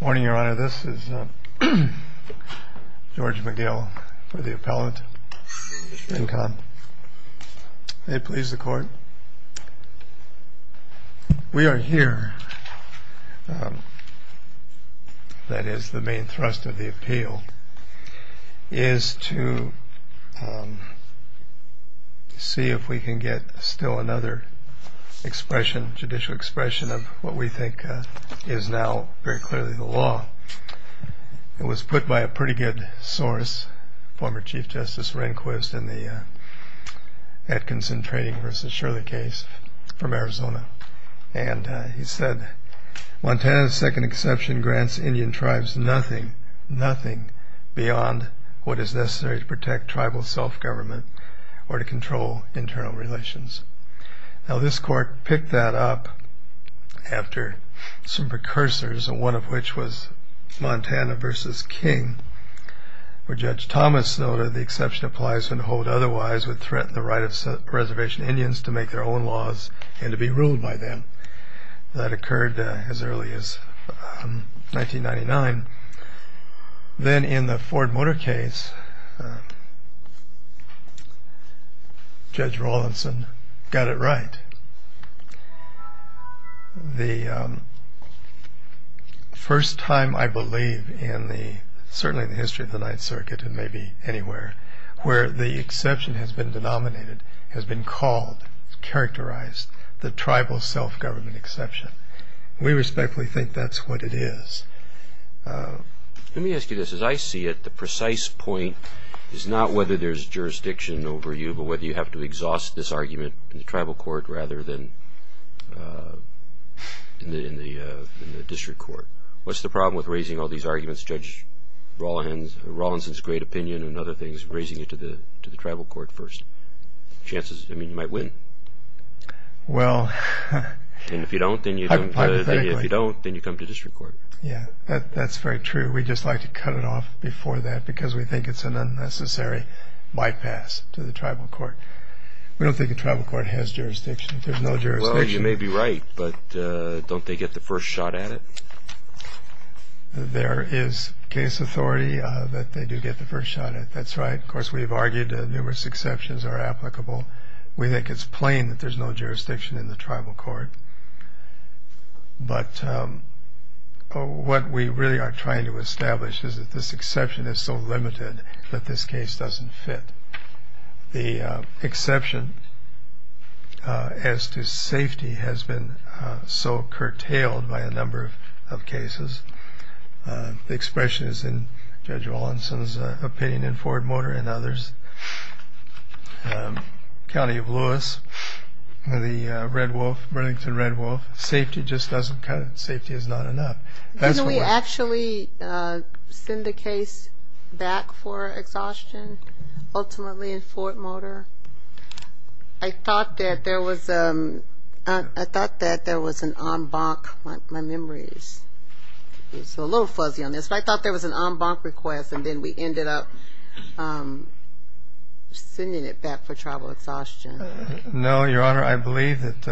Morning, Your Honor. This is George McGill for the appellate, Incon. May it please the Court. We are here, that is the main thrust of the appeal, is to see if we can get still another expression, judicial expression of what we think is now very clearly the law. It was put by a pretty good source, former Chief Justice Rehnquist in the Atkinson Trading v. Shirley case from Arizona. And he said, Montana's second exception grants Indian tribes nothing, nothing beyond what is necessary to protect after some precursors, one of which was Montana v. King. Where Judge Thomas noted the exception applies when hold otherwise would threaten the right of reservation Indians to make their own laws and to be ruled by them. That occurred as early as 1999. Then in the Ford Motor case, Judge Rawlinson got it right. The first time I believe in the, certainly in the history of the Ninth Circuit and maybe anywhere, where the exception has been denominated, has been called, characterized, the tribal self-government exception. We respectfully think that's what it is. Let me ask you this. As I see it, the precise point is not whether there's jurisdiction over you, but whether you have to exhaust this argument in the tribal court rather than in the district court. What's the problem with raising all these arguments, Judge Rawlinson's great opinion and other things, raising it to the tribal court first? Chances, I mean, you might win. Well, hypothetically. And if you don't, then you come to district court. Yeah, that's very true. We'd just like to cut it off before that because we think it's an unnecessary bypass to the tribal court. We don't think the tribal court has jurisdiction. There's no jurisdiction. Well, you may be right, but don't they get the first shot at it? There is case authority that they do get the first shot at it. That's right. Of course, we've argued that numerous exceptions are applicable. We think it's plain that there's no jurisdiction in the tribal court. But what we really are trying to establish is that this exception is so limited that this case doesn't fit. The exception as to safety has been so curtailed by a number of cases. The expression is in Judge Rawlinson's opinion in Ford Motor and others. County of Lewis, the Red Wolf, Burlington Red Wolf. Safety just doesn't cut it. Safety is not enough. Didn't we actually send the case back for exhaustion ultimately in Ford Motor? I thought that there was an en banc. My memory is a little fuzzy on this. But I thought there was an en banc request, and then we ended up sending it back for tribal exhaustion. No, Your Honor. I believe that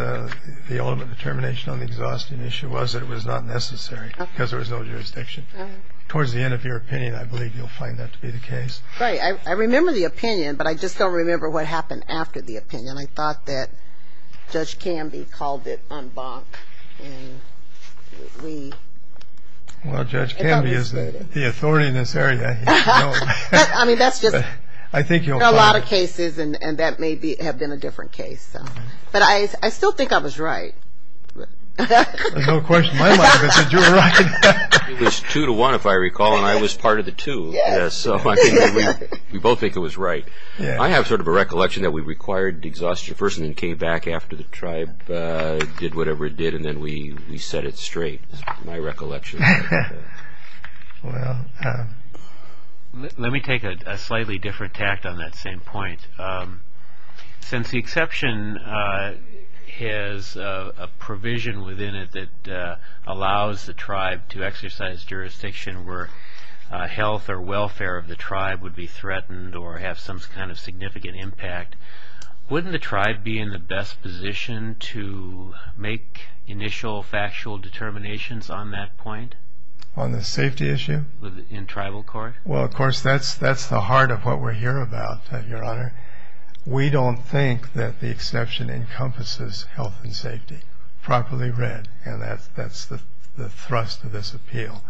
the ultimate determination on the exhaustion issue was that it was not necessary because there was no jurisdiction. Towards the end of your opinion, I believe you'll find that to be the case. Right. I remember the opinion, but I just don't remember what happened after the opinion. I thought that Judge Canby called it en banc. Well, Judge Canby is the authority in this area. I mean, that's just a lot of cases, and that may have been a different case. But I still think I was right. There's no question in my mind that you were right. It was two to one, if I recall, and I was part of the two. So I think that we both think it was right. I have sort of a recollection that we required exhaustion first, and then came back after the tribe did whatever it did, and then we set it straight. That's my recollection. Let me take a slightly different tact on that same point. Since the exception has a provision within it that allows the tribe to exercise jurisdiction where health or welfare of the tribe would be threatened or have some kind of significant impact, wouldn't the tribe be in the best position to make initial factual determinations on that point? On the safety issue? In tribal court? Well, of course, that's the heart of what we're here about, Your Honor. We don't think that the exception encompasses health and safety, properly read, and that's the thrust of this appeal.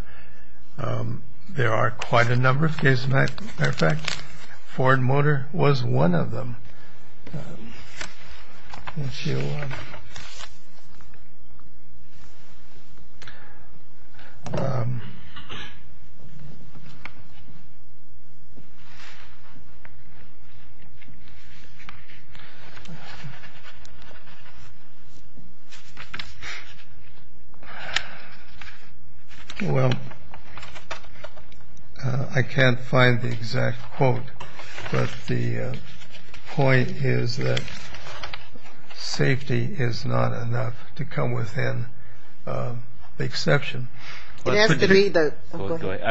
There are quite a number of cases. As a matter of fact, Ford Motor was one of them. Let's see. Well, I can't find the exact quote, but the point is that safety is not enough to come within the exception. I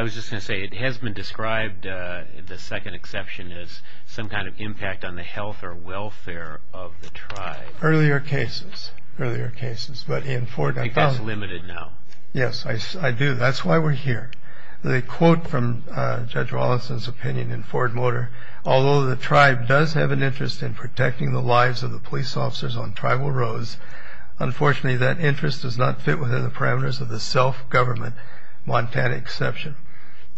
was just going to say it has been described, the second exception, as some kind of impact on the health or welfare of the tribe. Earlier cases, earlier cases, but in Ford Motor. I think that's limited now. Yes, I do. That's why we're here. The quote from Judge Wallinson's opinion in Ford Motor, although the tribe does have an interest in protecting the lives of the police officers on tribal roads, unfortunately that interest does not fit within the parameters of the self-government Montana exception.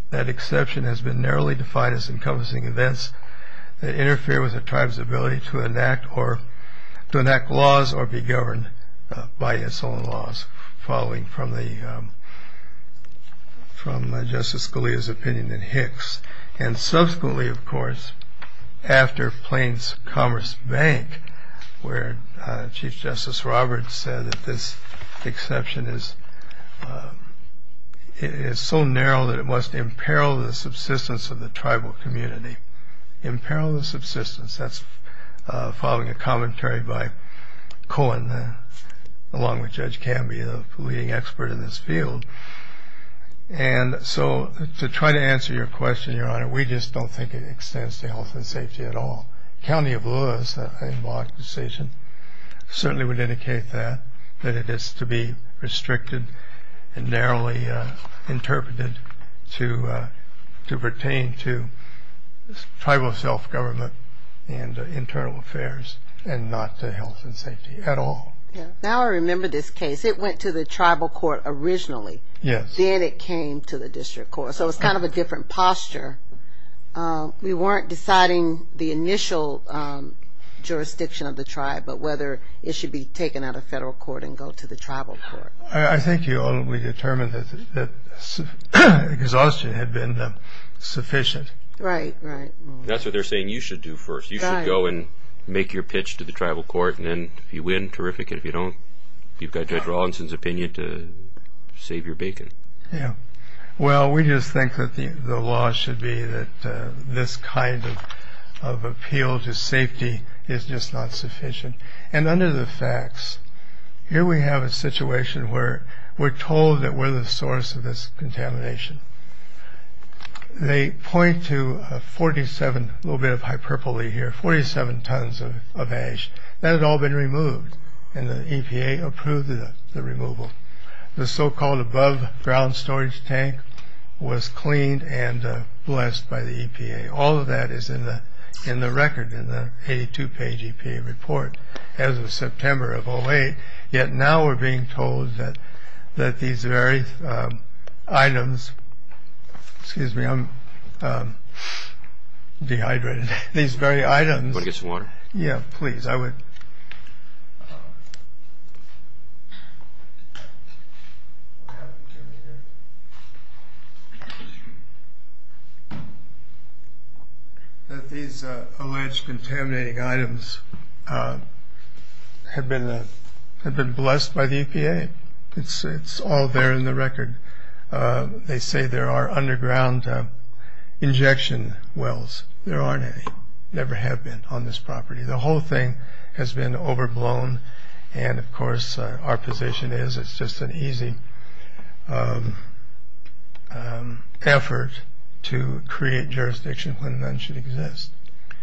That exception has been narrowly defined as encompassing events that interfere with the tribe's ability to enact laws or be governed by its own laws, following from Justice Scalia's opinion in Hicks. Subsequently, of course, after Plains Commerce Bank, where Chief Justice Roberts said that this exception is so narrow that it must imperil the subsistence of the tribal community. Imperil the subsistence. That's following a commentary by Cohen, along with Judge Camby, the leading expert in this field. And so to try to answer your question, Your Honor, we just don't think it extends to health and safety at all. County of Lewis, a block decision, certainly would indicate that, that it is to be restricted and narrowly interpreted to pertain to tribal self-government and internal affairs and not to health and safety at all. Now I remember this case. It went to the tribal court originally. Yes. Then it came to the district court. So it's kind of a different posture. We weren't deciding the initial jurisdiction of the tribe, but whether it should be taken out of federal court and go to the tribal court. I think we determined that exhaustion had been sufficient. Right, right. That's what they're saying you should do first. You should go and make your pitch to the tribal court, and then if you win, terrific. If you don't, you've got Judge Rawlinson's opinion to save your bacon. Yeah. Well, we just think that the law should be that this kind of appeal to safety is just not sufficient. And under the facts, here we have a situation where we're told that we're the source of this contamination. They point to 47, a little bit of hyperbole here, 47 tons of ash. That had all been removed, and the EPA approved the removal. The so-called above-ground storage tank was cleaned and blessed by the EPA. All of that is in the record in the 82-page EPA report as of September of 08. Yet now we're being told that these very items – excuse me, I'm dehydrated. These very items – Want to get some water? Yeah, please. Yes, I would. These alleged contaminating items have been blessed by the EPA. It's all there in the record. They say there are underground injection wells. There aren't any. Never have been on this property. The whole thing has been overblown, and, of course, our position is it's just an easy effort to create jurisdiction when none should exist.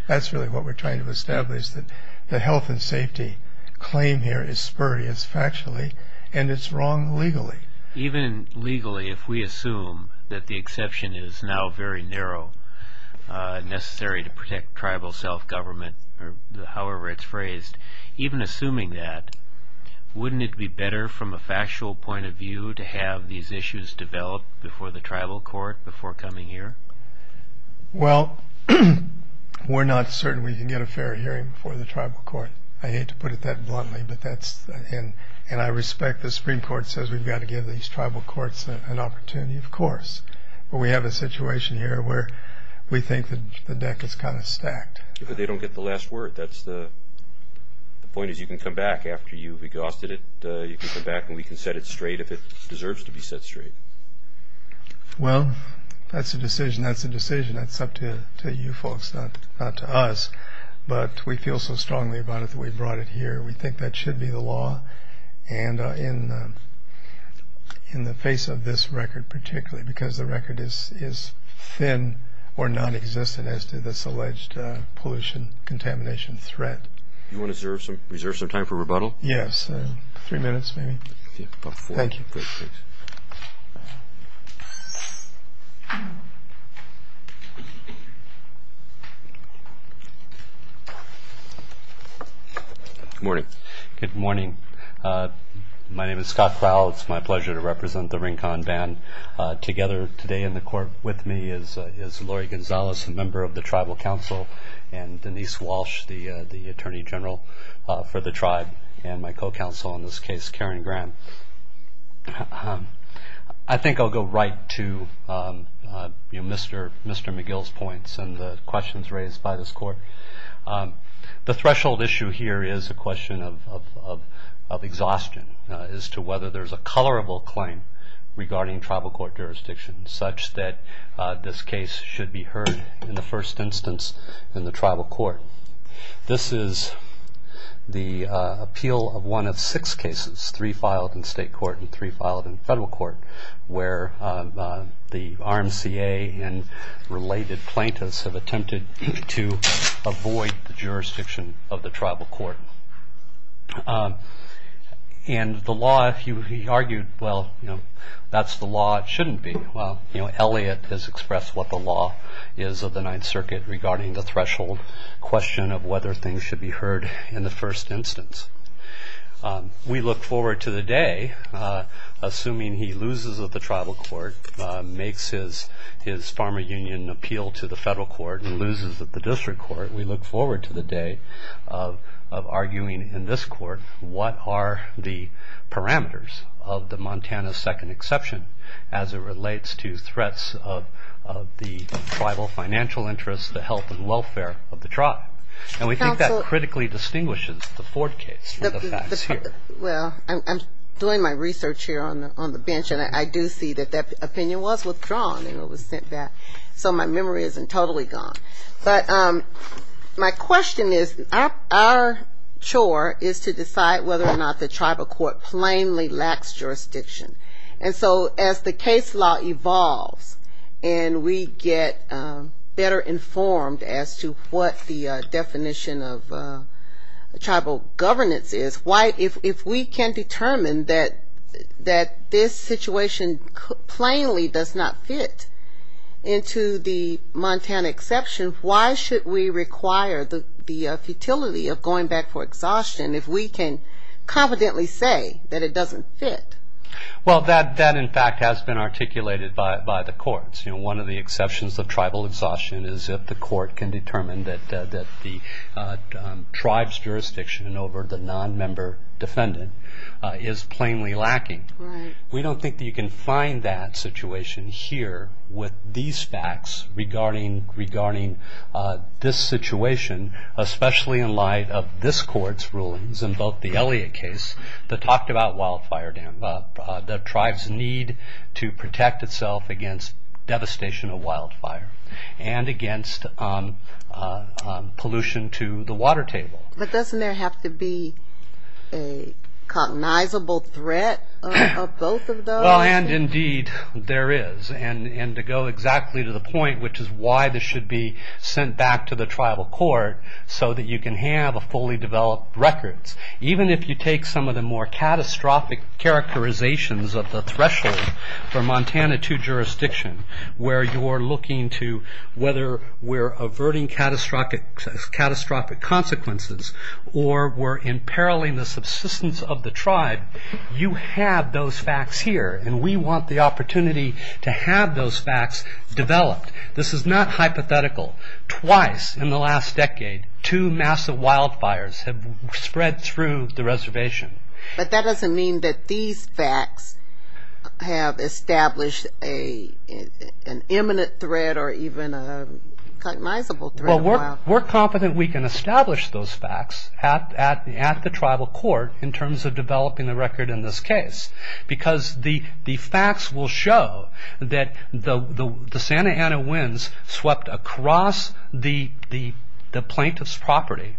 That's really what we're trying to establish, that the health and safety claim here is spurious factually, and it's wrong legally. Even legally, if we assume that the exception is now very narrow, necessary to protect tribal self-government, or however it's phrased, even assuming that, wouldn't it be better from a factual point of view to have these issues develop before the tribal court, before coming here? Well, we're not certain we can get a fair hearing before the tribal court. I hate to put it that bluntly, and I respect the Supreme Court says we've got to give these tribal courts an opportunity, of course, but we have a situation here where we think the deck is kind of stacked. But they don't get the last word. The point is you can come back after you've exhausted it. You can come back and we can set it straight if it deserves to be set straight. Well, that's a decision. That's a decision. That's up to you folks, not to us. But we feel so strongly about it that we brought it here. We think that should be the law, and in the face of this record particularly, because the record is thin or nonexistent as to this alleged pollution contamination threat. Do you want to reserve some time for rebuttal? Yes. Three minutes maybe. Thank you. Please. Good morning. Good morning. My name is Scott Fowle. It's my pleasure to represent the Rincon Band. Together today in the court with me is Lori Gonzalez, a member of the Tribal Council, and Denise Walsh, the Attorney General for the tribe, and my co-counsel in this case, Karen Graham. I think I'll go right to Mr. McGill's points and the questions raised by this court. The threshold issue here is a question of exhaustion as to whether there's a colorable claim regarding tribal court jurisdiction such that this case should be heard in the first instance in the tribal court. This is the appeal of one of six cases, three filed in state court and three filed in federal court, where the RMCA and related plaintiffs have attempted to avoid the jurisdiction of the tribal court. And the law, he argued, well, that's the law it shouldn't be. Well, Elliott has expressed what the law is of the Ninth Circuit regarding the threshold question of whether things should be heard in the first instance. We look forward to the day, assuming he loses at the tribal court, makes his farmer union appeal to the federal court and loses at the district court, we look forward to the day of arguing in this court what are the parameters of the Montana Second Exception as it relates to threats of the tribal financial interests, the health and welfare of the tribe. And we think that critically distinguishes the Ford case from the facts here. Well, I'm doing my research here on the bench and I do see that that opinion was withdrawn and it was sent back. So my memory isn't totally gone. But my question is, our chore is to decide whether or not the tribal court plainly lacks jurisdiction. And so as the case law evolves and we get better informed as to what the definition of tribal governance is, if we can determine that this situation plainly does not fit into the Montana Exception, why should we require the futility of going back for exhaustion if we can confidently say that it doesn't fit? Well, that in fact has been articulated by the courts. One of the exceptions of tribal exhaustion is if the court can determine that the tribe's jurisdiction over the non-member defendant is plainly lacking. We don't think that you can find that situation here with these facts regarding this situation, especially in light of this court's rulings in both the Elliott case that talked about wildfire dam, the tribe's need to protect itself against devastation of wildfire and against pollution to the water table. But doesn't there have to be a cognizable threat of both of those? Well, and indeed there is. And to go exactly to the point, which is why this should be sent back to the tribal court, so that you can have a fully developed record. Even if you take some of the more catastrophic characterizations of the threshold for Montana II jurisdiction, where you're looking to whether we're averting catastrophic consequences or we're imperiling the subsistence of the tribe, you have those facts here. And we want the opportunity to have those facts developed. This is not hypothetical. Twice in the last decade, two massive wildfires have spread through the reservation. But that doesn't mean that these facts have established an imminent threat or even a cognizable threat of wildfire. We're confident we can establish those facts at the tribal court in terms of developing the record in this case. Because the facts will show that the Santa Ana winds swept across the plaintiff's property.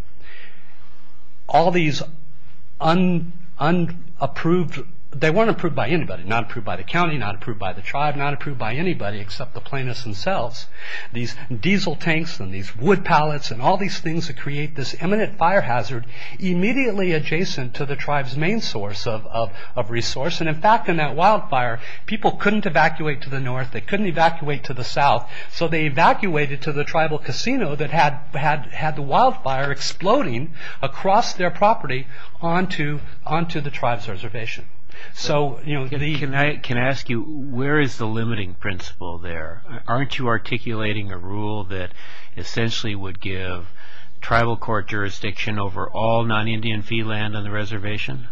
They weren't approved by anybody. Not approved by the county, not approved by the tribe, not approved by anybody except the plaintiffs themselves. These diesel tanks and these wood pallets and all these things that create this imminent fire hazard immediately adjacent to the tribe's main source of resource. And in fact, in that wildfire, people couldn't evacuate to the north. They couldn't evacuate to the south. So they evacuated to the tribal casino that had the wildfire exploding across their property onto the tribe's reservation. Can I ask you, where is the limiting principle there? Aren't you articulating a rule that essentially would give tribal court jurisdiction over all non-Indian fee land on the reservation?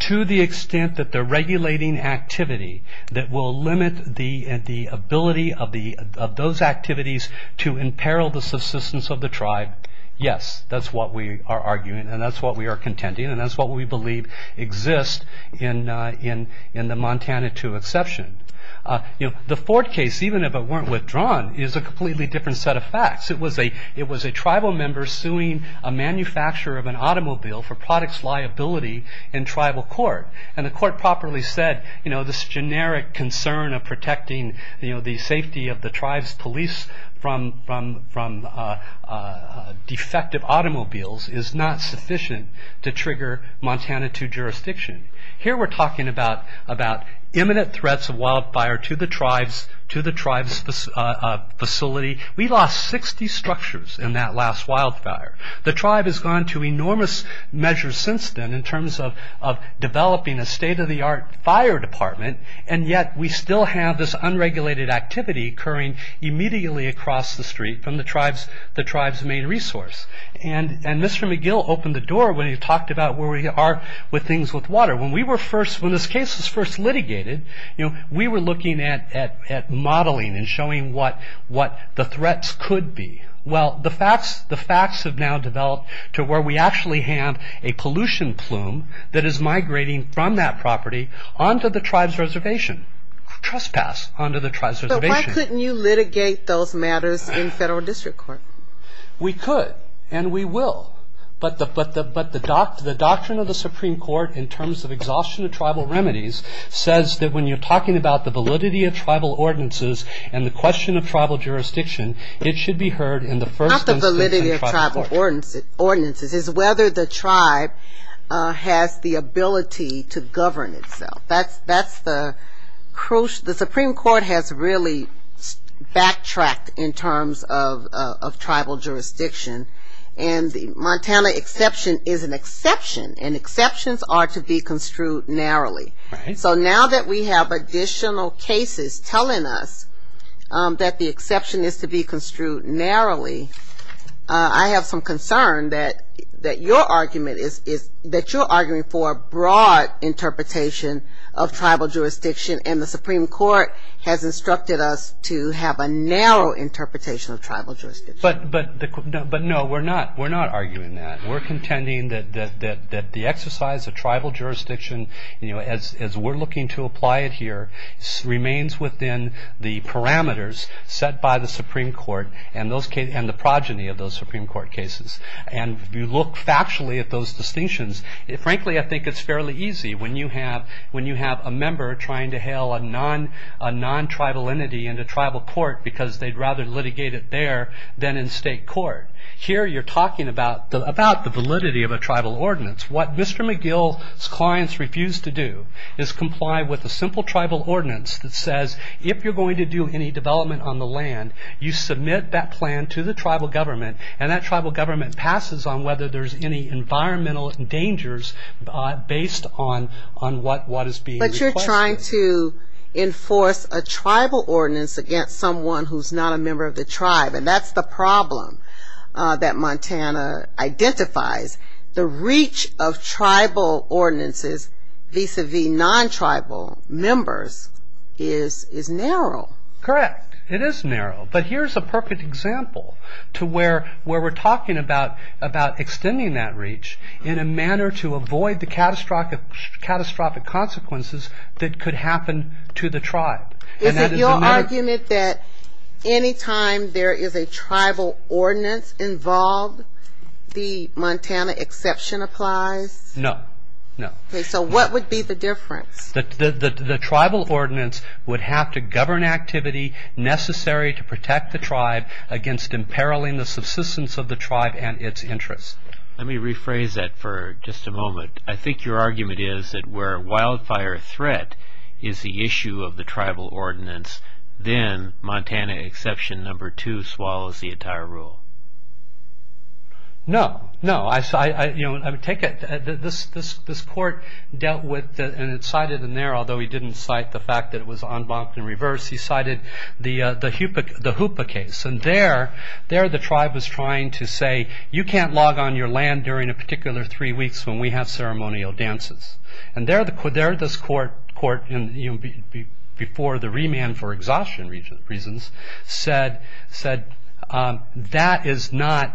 To the extent that the regulating activity that will limit the ability of those activities to imperil the subsistence of the tribe, yes. That's what we are arguing and that's what we are contending and that's what we believe exists in the Montana II exception. The Ford case, even if it weren't withdrawn, is a completely different set of facts. It was a tribal member suing a manufacturer of an automobile for product's liability in tribal court. And the court properly said, this generic concern of protecting the safety of the tribe's police from defective automobiles is not sufficient to trigger Montana II jurisdiction. Here we're talking about imminent threats of wildfire to the tribe's facility. We lost 60 structures in that last wildfire. The tribe has gone to enormous measures since then in terms of developing a state-of-the-art fire department and yet we still have this unregulated activity occurring immediately across the street from the tribe's main resource. And Mr. McGill opened the door when he talked about where we are with things with water. When this case was first litigated, we were looking at modeling and showing what the threats could be. Well, the facts have now developed to where we actually have a pollution plume that is migrating from that property onto the tribe's reservation, trespass onto the tribe's reservation. So why couldn't you litigate those matters in federal district court? We could and we will. But the doctrine of the Supreme Court in terms of exhaustion of tribal remedies says that when you're talking about the validity of tribal ordinances and the question of tribal jurisdiction, it should be heard in the first instance in tribal court. Not the validity of tribal ordinances. It's whether the tribe has the ability to govern itself. The Supreme Court has really backtracked in terms of tribal jurisdiction and the Montana exception is an exception and exceptions are to be construed narrowly. So now that we have additional cases telling us that the exception is to be construed narrowly, I have some concern that your argument is that you're arguing for a broad interpretation of tribal jurisdiction and the Supreme Court has instructed us to have a narrow interpretation of tribal jurisdiction. But no, we're not arguing that. We're contending that the exercise of tribal jurisdiction as we're looking to apply it here remains within the parameters set by the Supreme Court and the progeny of those Supreme Court cases. And if you look factually at those distinctions, frankly I think it's fairly easy when you have a member trying to hail a non-tribal entity into tribal court because they'd rather litigate it there than in state court. Here you're talking about the validity of a tribal ordinance. What Mr. McGill's clients refuse to do is comply with a simple tribal ordinance that says if you're going to do any development on the land, you submit that plan to the tribal government and that tribal government passes on whether there's any environmental dangers based on what is being requested. But you're trying to enforce a tribal ordinance against someone who's not a member of the tribe and that's the problem that Montana identifies. The reach of tribal ordinances vis-à-vis non-tribal members is narrow. Correct. It is narrow. But here's a perfect example to where we're talking about extending that reach in a manner to avoid the catastrophic consequences that could happen to the tribe. Is it your argument that anytime there is a tribal ordinance involved, the Montana exception applies? No. So what would be the difference? The tribal ordinance would have to govern activity necessary to protect the tribe against imperiling the subsistence of the tribe and its interests. Let me rephrase that for just a moment. I think your argument is that where wildfire threat is the issue of the tribal ordinance, then Montana exception number two swallows the entire rule. No. This court dealt with and it cited in there, although he didn't cite the fact that it was en banc in reverse, he cited the Hoopa case. There the tribe was trying to say, you can't log on your land during a particular three weeks when we have ceremonial dances. There this court, before the remand for exhaustion reasons, said that is not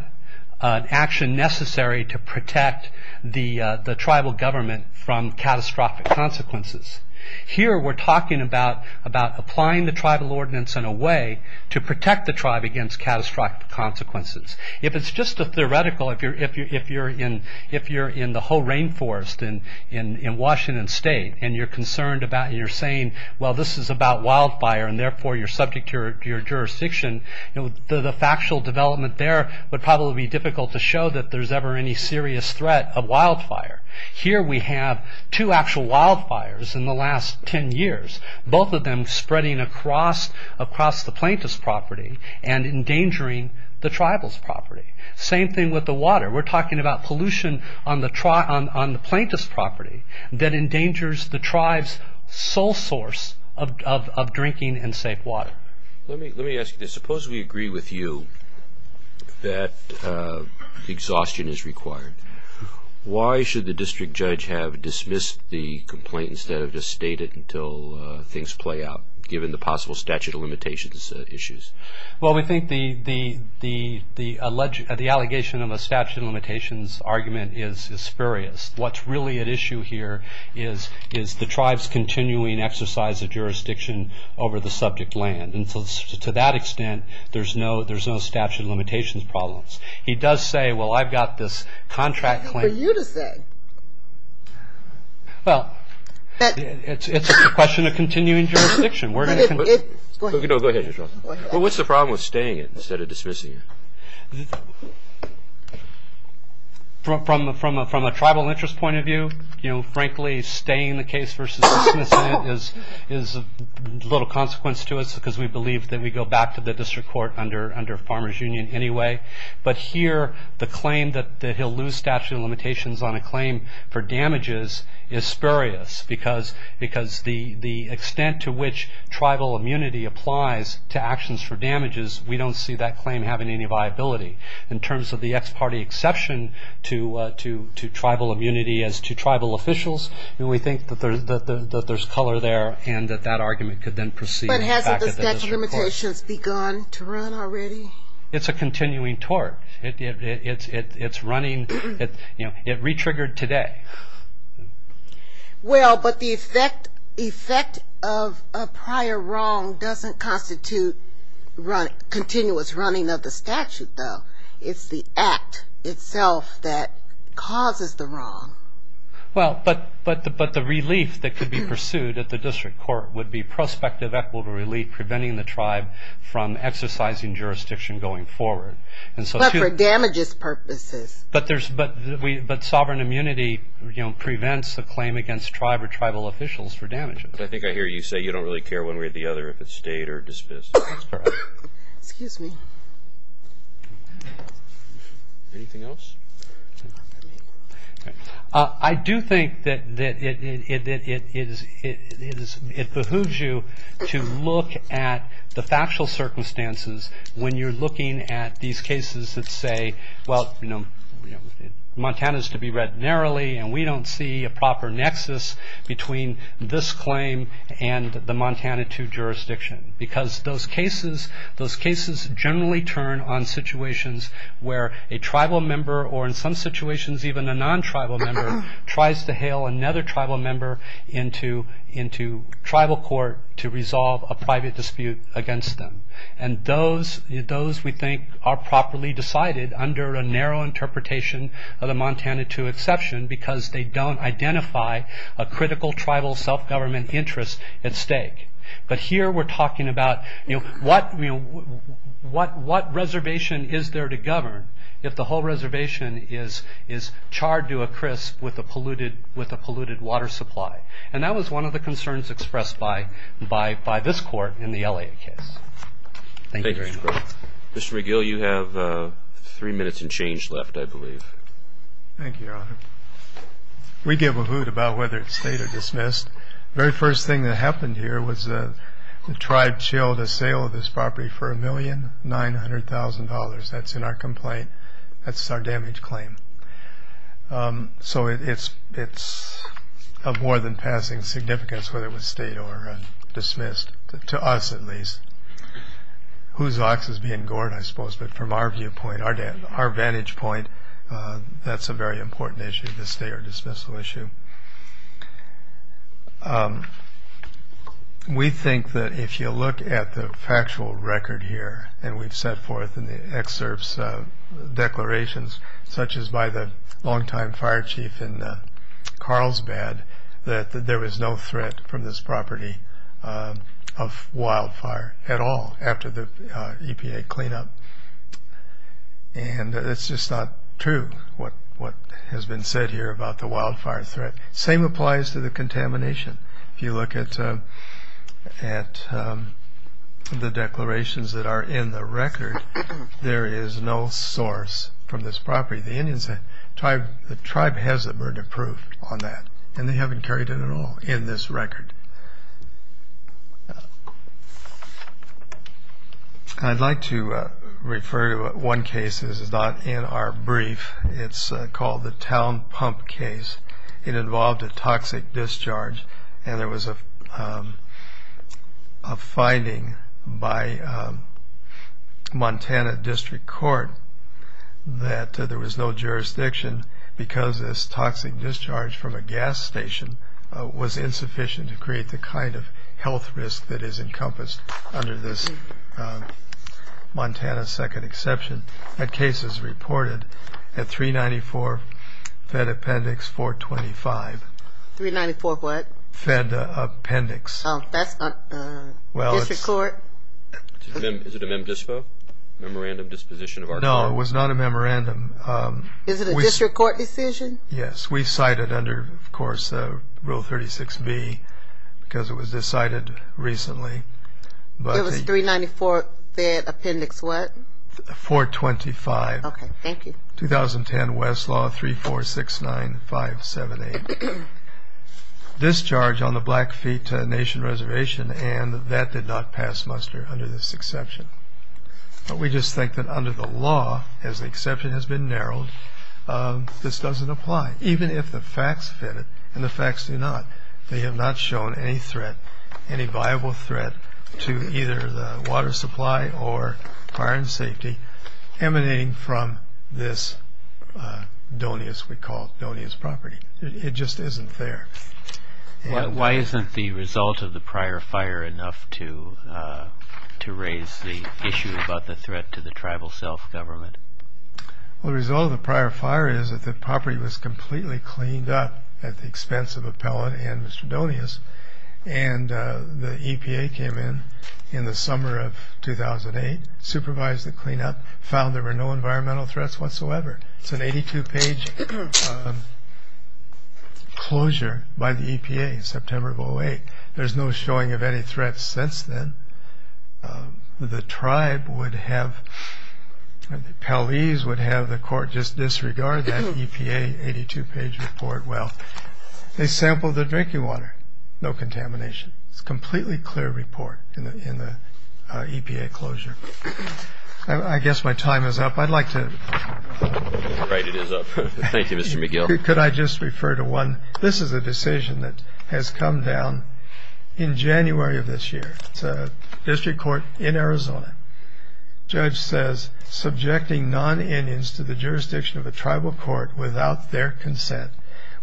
an action necessary to protect the tribal government from catastrophic consequences. Here we're talking about applying the tribal ordinance in a way to protect the tribe against catastrophic consequences. If it's just a theoretical, if you're in the whole rainforest in Washington State and you're concerned about, you're saying, well this is about wildfire and therefore you're subject to your jurisdiction, the factual development there would probably be difficult to show that there's ever any serious threat of wildfire. Here we have two actual wildfires in the last 10 years, both of them spreading across the plaintiff's property and endangering the tribal's property. Same thing with the water. We're talking about pollution on the plaintiff's property that endangers the tribe's sole source of drinking and safe water. Let me ask you this. Suppose we agree with you that exhaustion is required. Why should the district judge have dismissed the complaint instead of just state it until things play out, given the possible statute of limitations issues? We think the allegation of a statute of limitations argument is spurious. What's really at issue here is the tribe's continuing exercise of jurisdiction over the subject land. To that extent, there's no statute of limitations problems. He does say, well I've got this contract claim. What are you to say? Well, it's a question of continuing jurisdiction. Go ahead. What's the problem with staying it instead of dismissing it? From a tribal interest point of view, frankly staying the case versus dismissing it is a little consequence to us because we believe that we go back to the district court under Farmers Union anyway. But here, the claim that he'll lose statute of limitations on a claim for damages is spurious because the extent to which tribal immunity applies to actions for damages, we don't see that claim having any viability. In terms of the ex parte exception to tribal immunity as to tribal officials, we think that there's color there and that that argument could then proceed. But hasn't the statute of limitations begun to run already? It's a continuing tort. It's running. It re-triggered today. Well, but the effect of a prior wrong doesn't constitute continuous running of the statute though. It's the act itself that causes the wrong. Well, but the relief that could be pursued at the district court would be prospective equitable relief in preventing the tribe from exercising jurisdiction going forward. But for damages purposes. But sovereign immunity prevents the claim against tribe or tribal officials for damages. I think I hear you say you don't really care one way or the other if it's stayed or dismissed. That's correct. Excuse me. Anything else? I do think that it behooves you to look at the factual circumstances when you're looking at these cases that say, well, Montana is to be read narrowly and we don't see a proper nexus between this claim and the Montana 2 jurisdiction. Because those cases generally turn on situations where a tribal member or in some situations even a non-tribal member tries to hail another tribal member into tribal court to resolve a private dispute against them. And those we think are properly decided under a narrow interpretation of the Montana 2 exception because they don't identify a critical tribal self-government interest at stake. But here we're talking about what reservation is there to govern if the whole reservation is charred to a crisp with a polluted water supply. And that was one of the concerns expressed by this court in the LA case. Thank you. Mr. McGill, you have three minutes and change left, I believe. Thank you, Your Honor. We give a hoot about whether it's stayed or dismissed. The very first thing that happened here was the tribe chilled a sale of this property for $1,900,000. That's in our complaint. That's our damage claim. So it's of more than passing significance whether it was stayed or dismissed, to us at least. Whose ox is being gored, I suppose. But from our vantage point, that's a very important issue, the stay or dismissal issue. We think that if you look at the factual record here, and we've set forth in the excerpts declarations, such as by the longtime fire chief in Carlsbad, that there was no threat from this property of wildfire at all after the EPA cleanup. And it's just not true what has been said here about the wildfire threat. Same applies to the contamination. If you look at the declarations that are in the record, there is no source from this property. The tribe has a burden of proof on that, and they haven't carried it at all in this record. I'd like to refer to one case. This is not in our brief. It's called the Town Pump case. It involved a toxic discharge, and there was a finding by Montana District Court that there was no jurisdiction because this toxic discharge from a gas station was insufficient to create the kind of health risk that is encompassed under this Montana second exception. That case is reported at 394 Fed Appendix 425. 394 what? Fed Appendix. Oh, that's District Court. Is it a memdisco, memorandum disposition of our court? No, it was not a memorandum. Is it a District Court decision? We cite it under, of course, Rule 36B because it was decided recently. It was 394 Fed Appendix what? 425. Okay. Thank you. 2010 Westlaw 3469578. Discharge on the Blackfeet Nation Reservation, and that did not pass muster under this exception. But we just think that under the law, as the exception has been narrowed, this doesn't apply, even if the facts fit it, and the facts do not. They have not shown any threat, any viable threat to either the water supply or fire and safety emanating from this doneus we call it, doneus property. It just isn't there. Why isn't the result of the prior fire enough to raise the issue about the threat to the tribal self-government? Well, the result of the prior fire is that the property was completely cleaned up at the expense of Appellant and Mr. Doneus, and the EPA came in in the summer of 2008, supervised the cleanup, found there were no environmental threats whatsoever. It's an 82-page closure by the EPA in September of 2008. There's no showing of any threats since then. The tribe would have, the Peles would have the court just disregard that EPA 82-page report. Well, they sampled the drinking water, no contamination. It's a completely clear report in the EPA closure. I guess my time is up. I'd like to. Right, it is up. Thank you, Mr. McGill. Could I just refer to one? This is a decision that has come down in January of this year. It's a district court in Arizona. Judge says subjecting non-Indians to the jurisdiction of a tribal court without their consent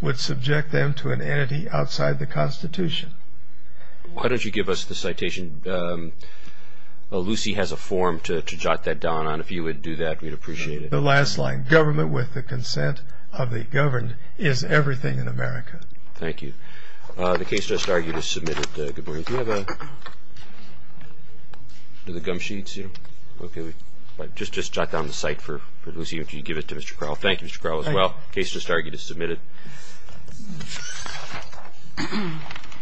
would subject them to an entity outside the Constitution. Why don't you give us the citation? Lucy has a form to jot that down on. If you would do that, we'd appreciate it. The last line, government with the consent of the governed is everything in America. Thank you. The case just argued is submitted. Good morning. Do you have a gum sheet? Just jot down the cite for Lucy and give it to Mr. Crowell. The case just argued is submitted.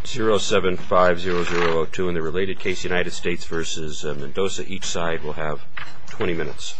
075002. In the related case, United States v. Mendoza, each side will have 20 minutes.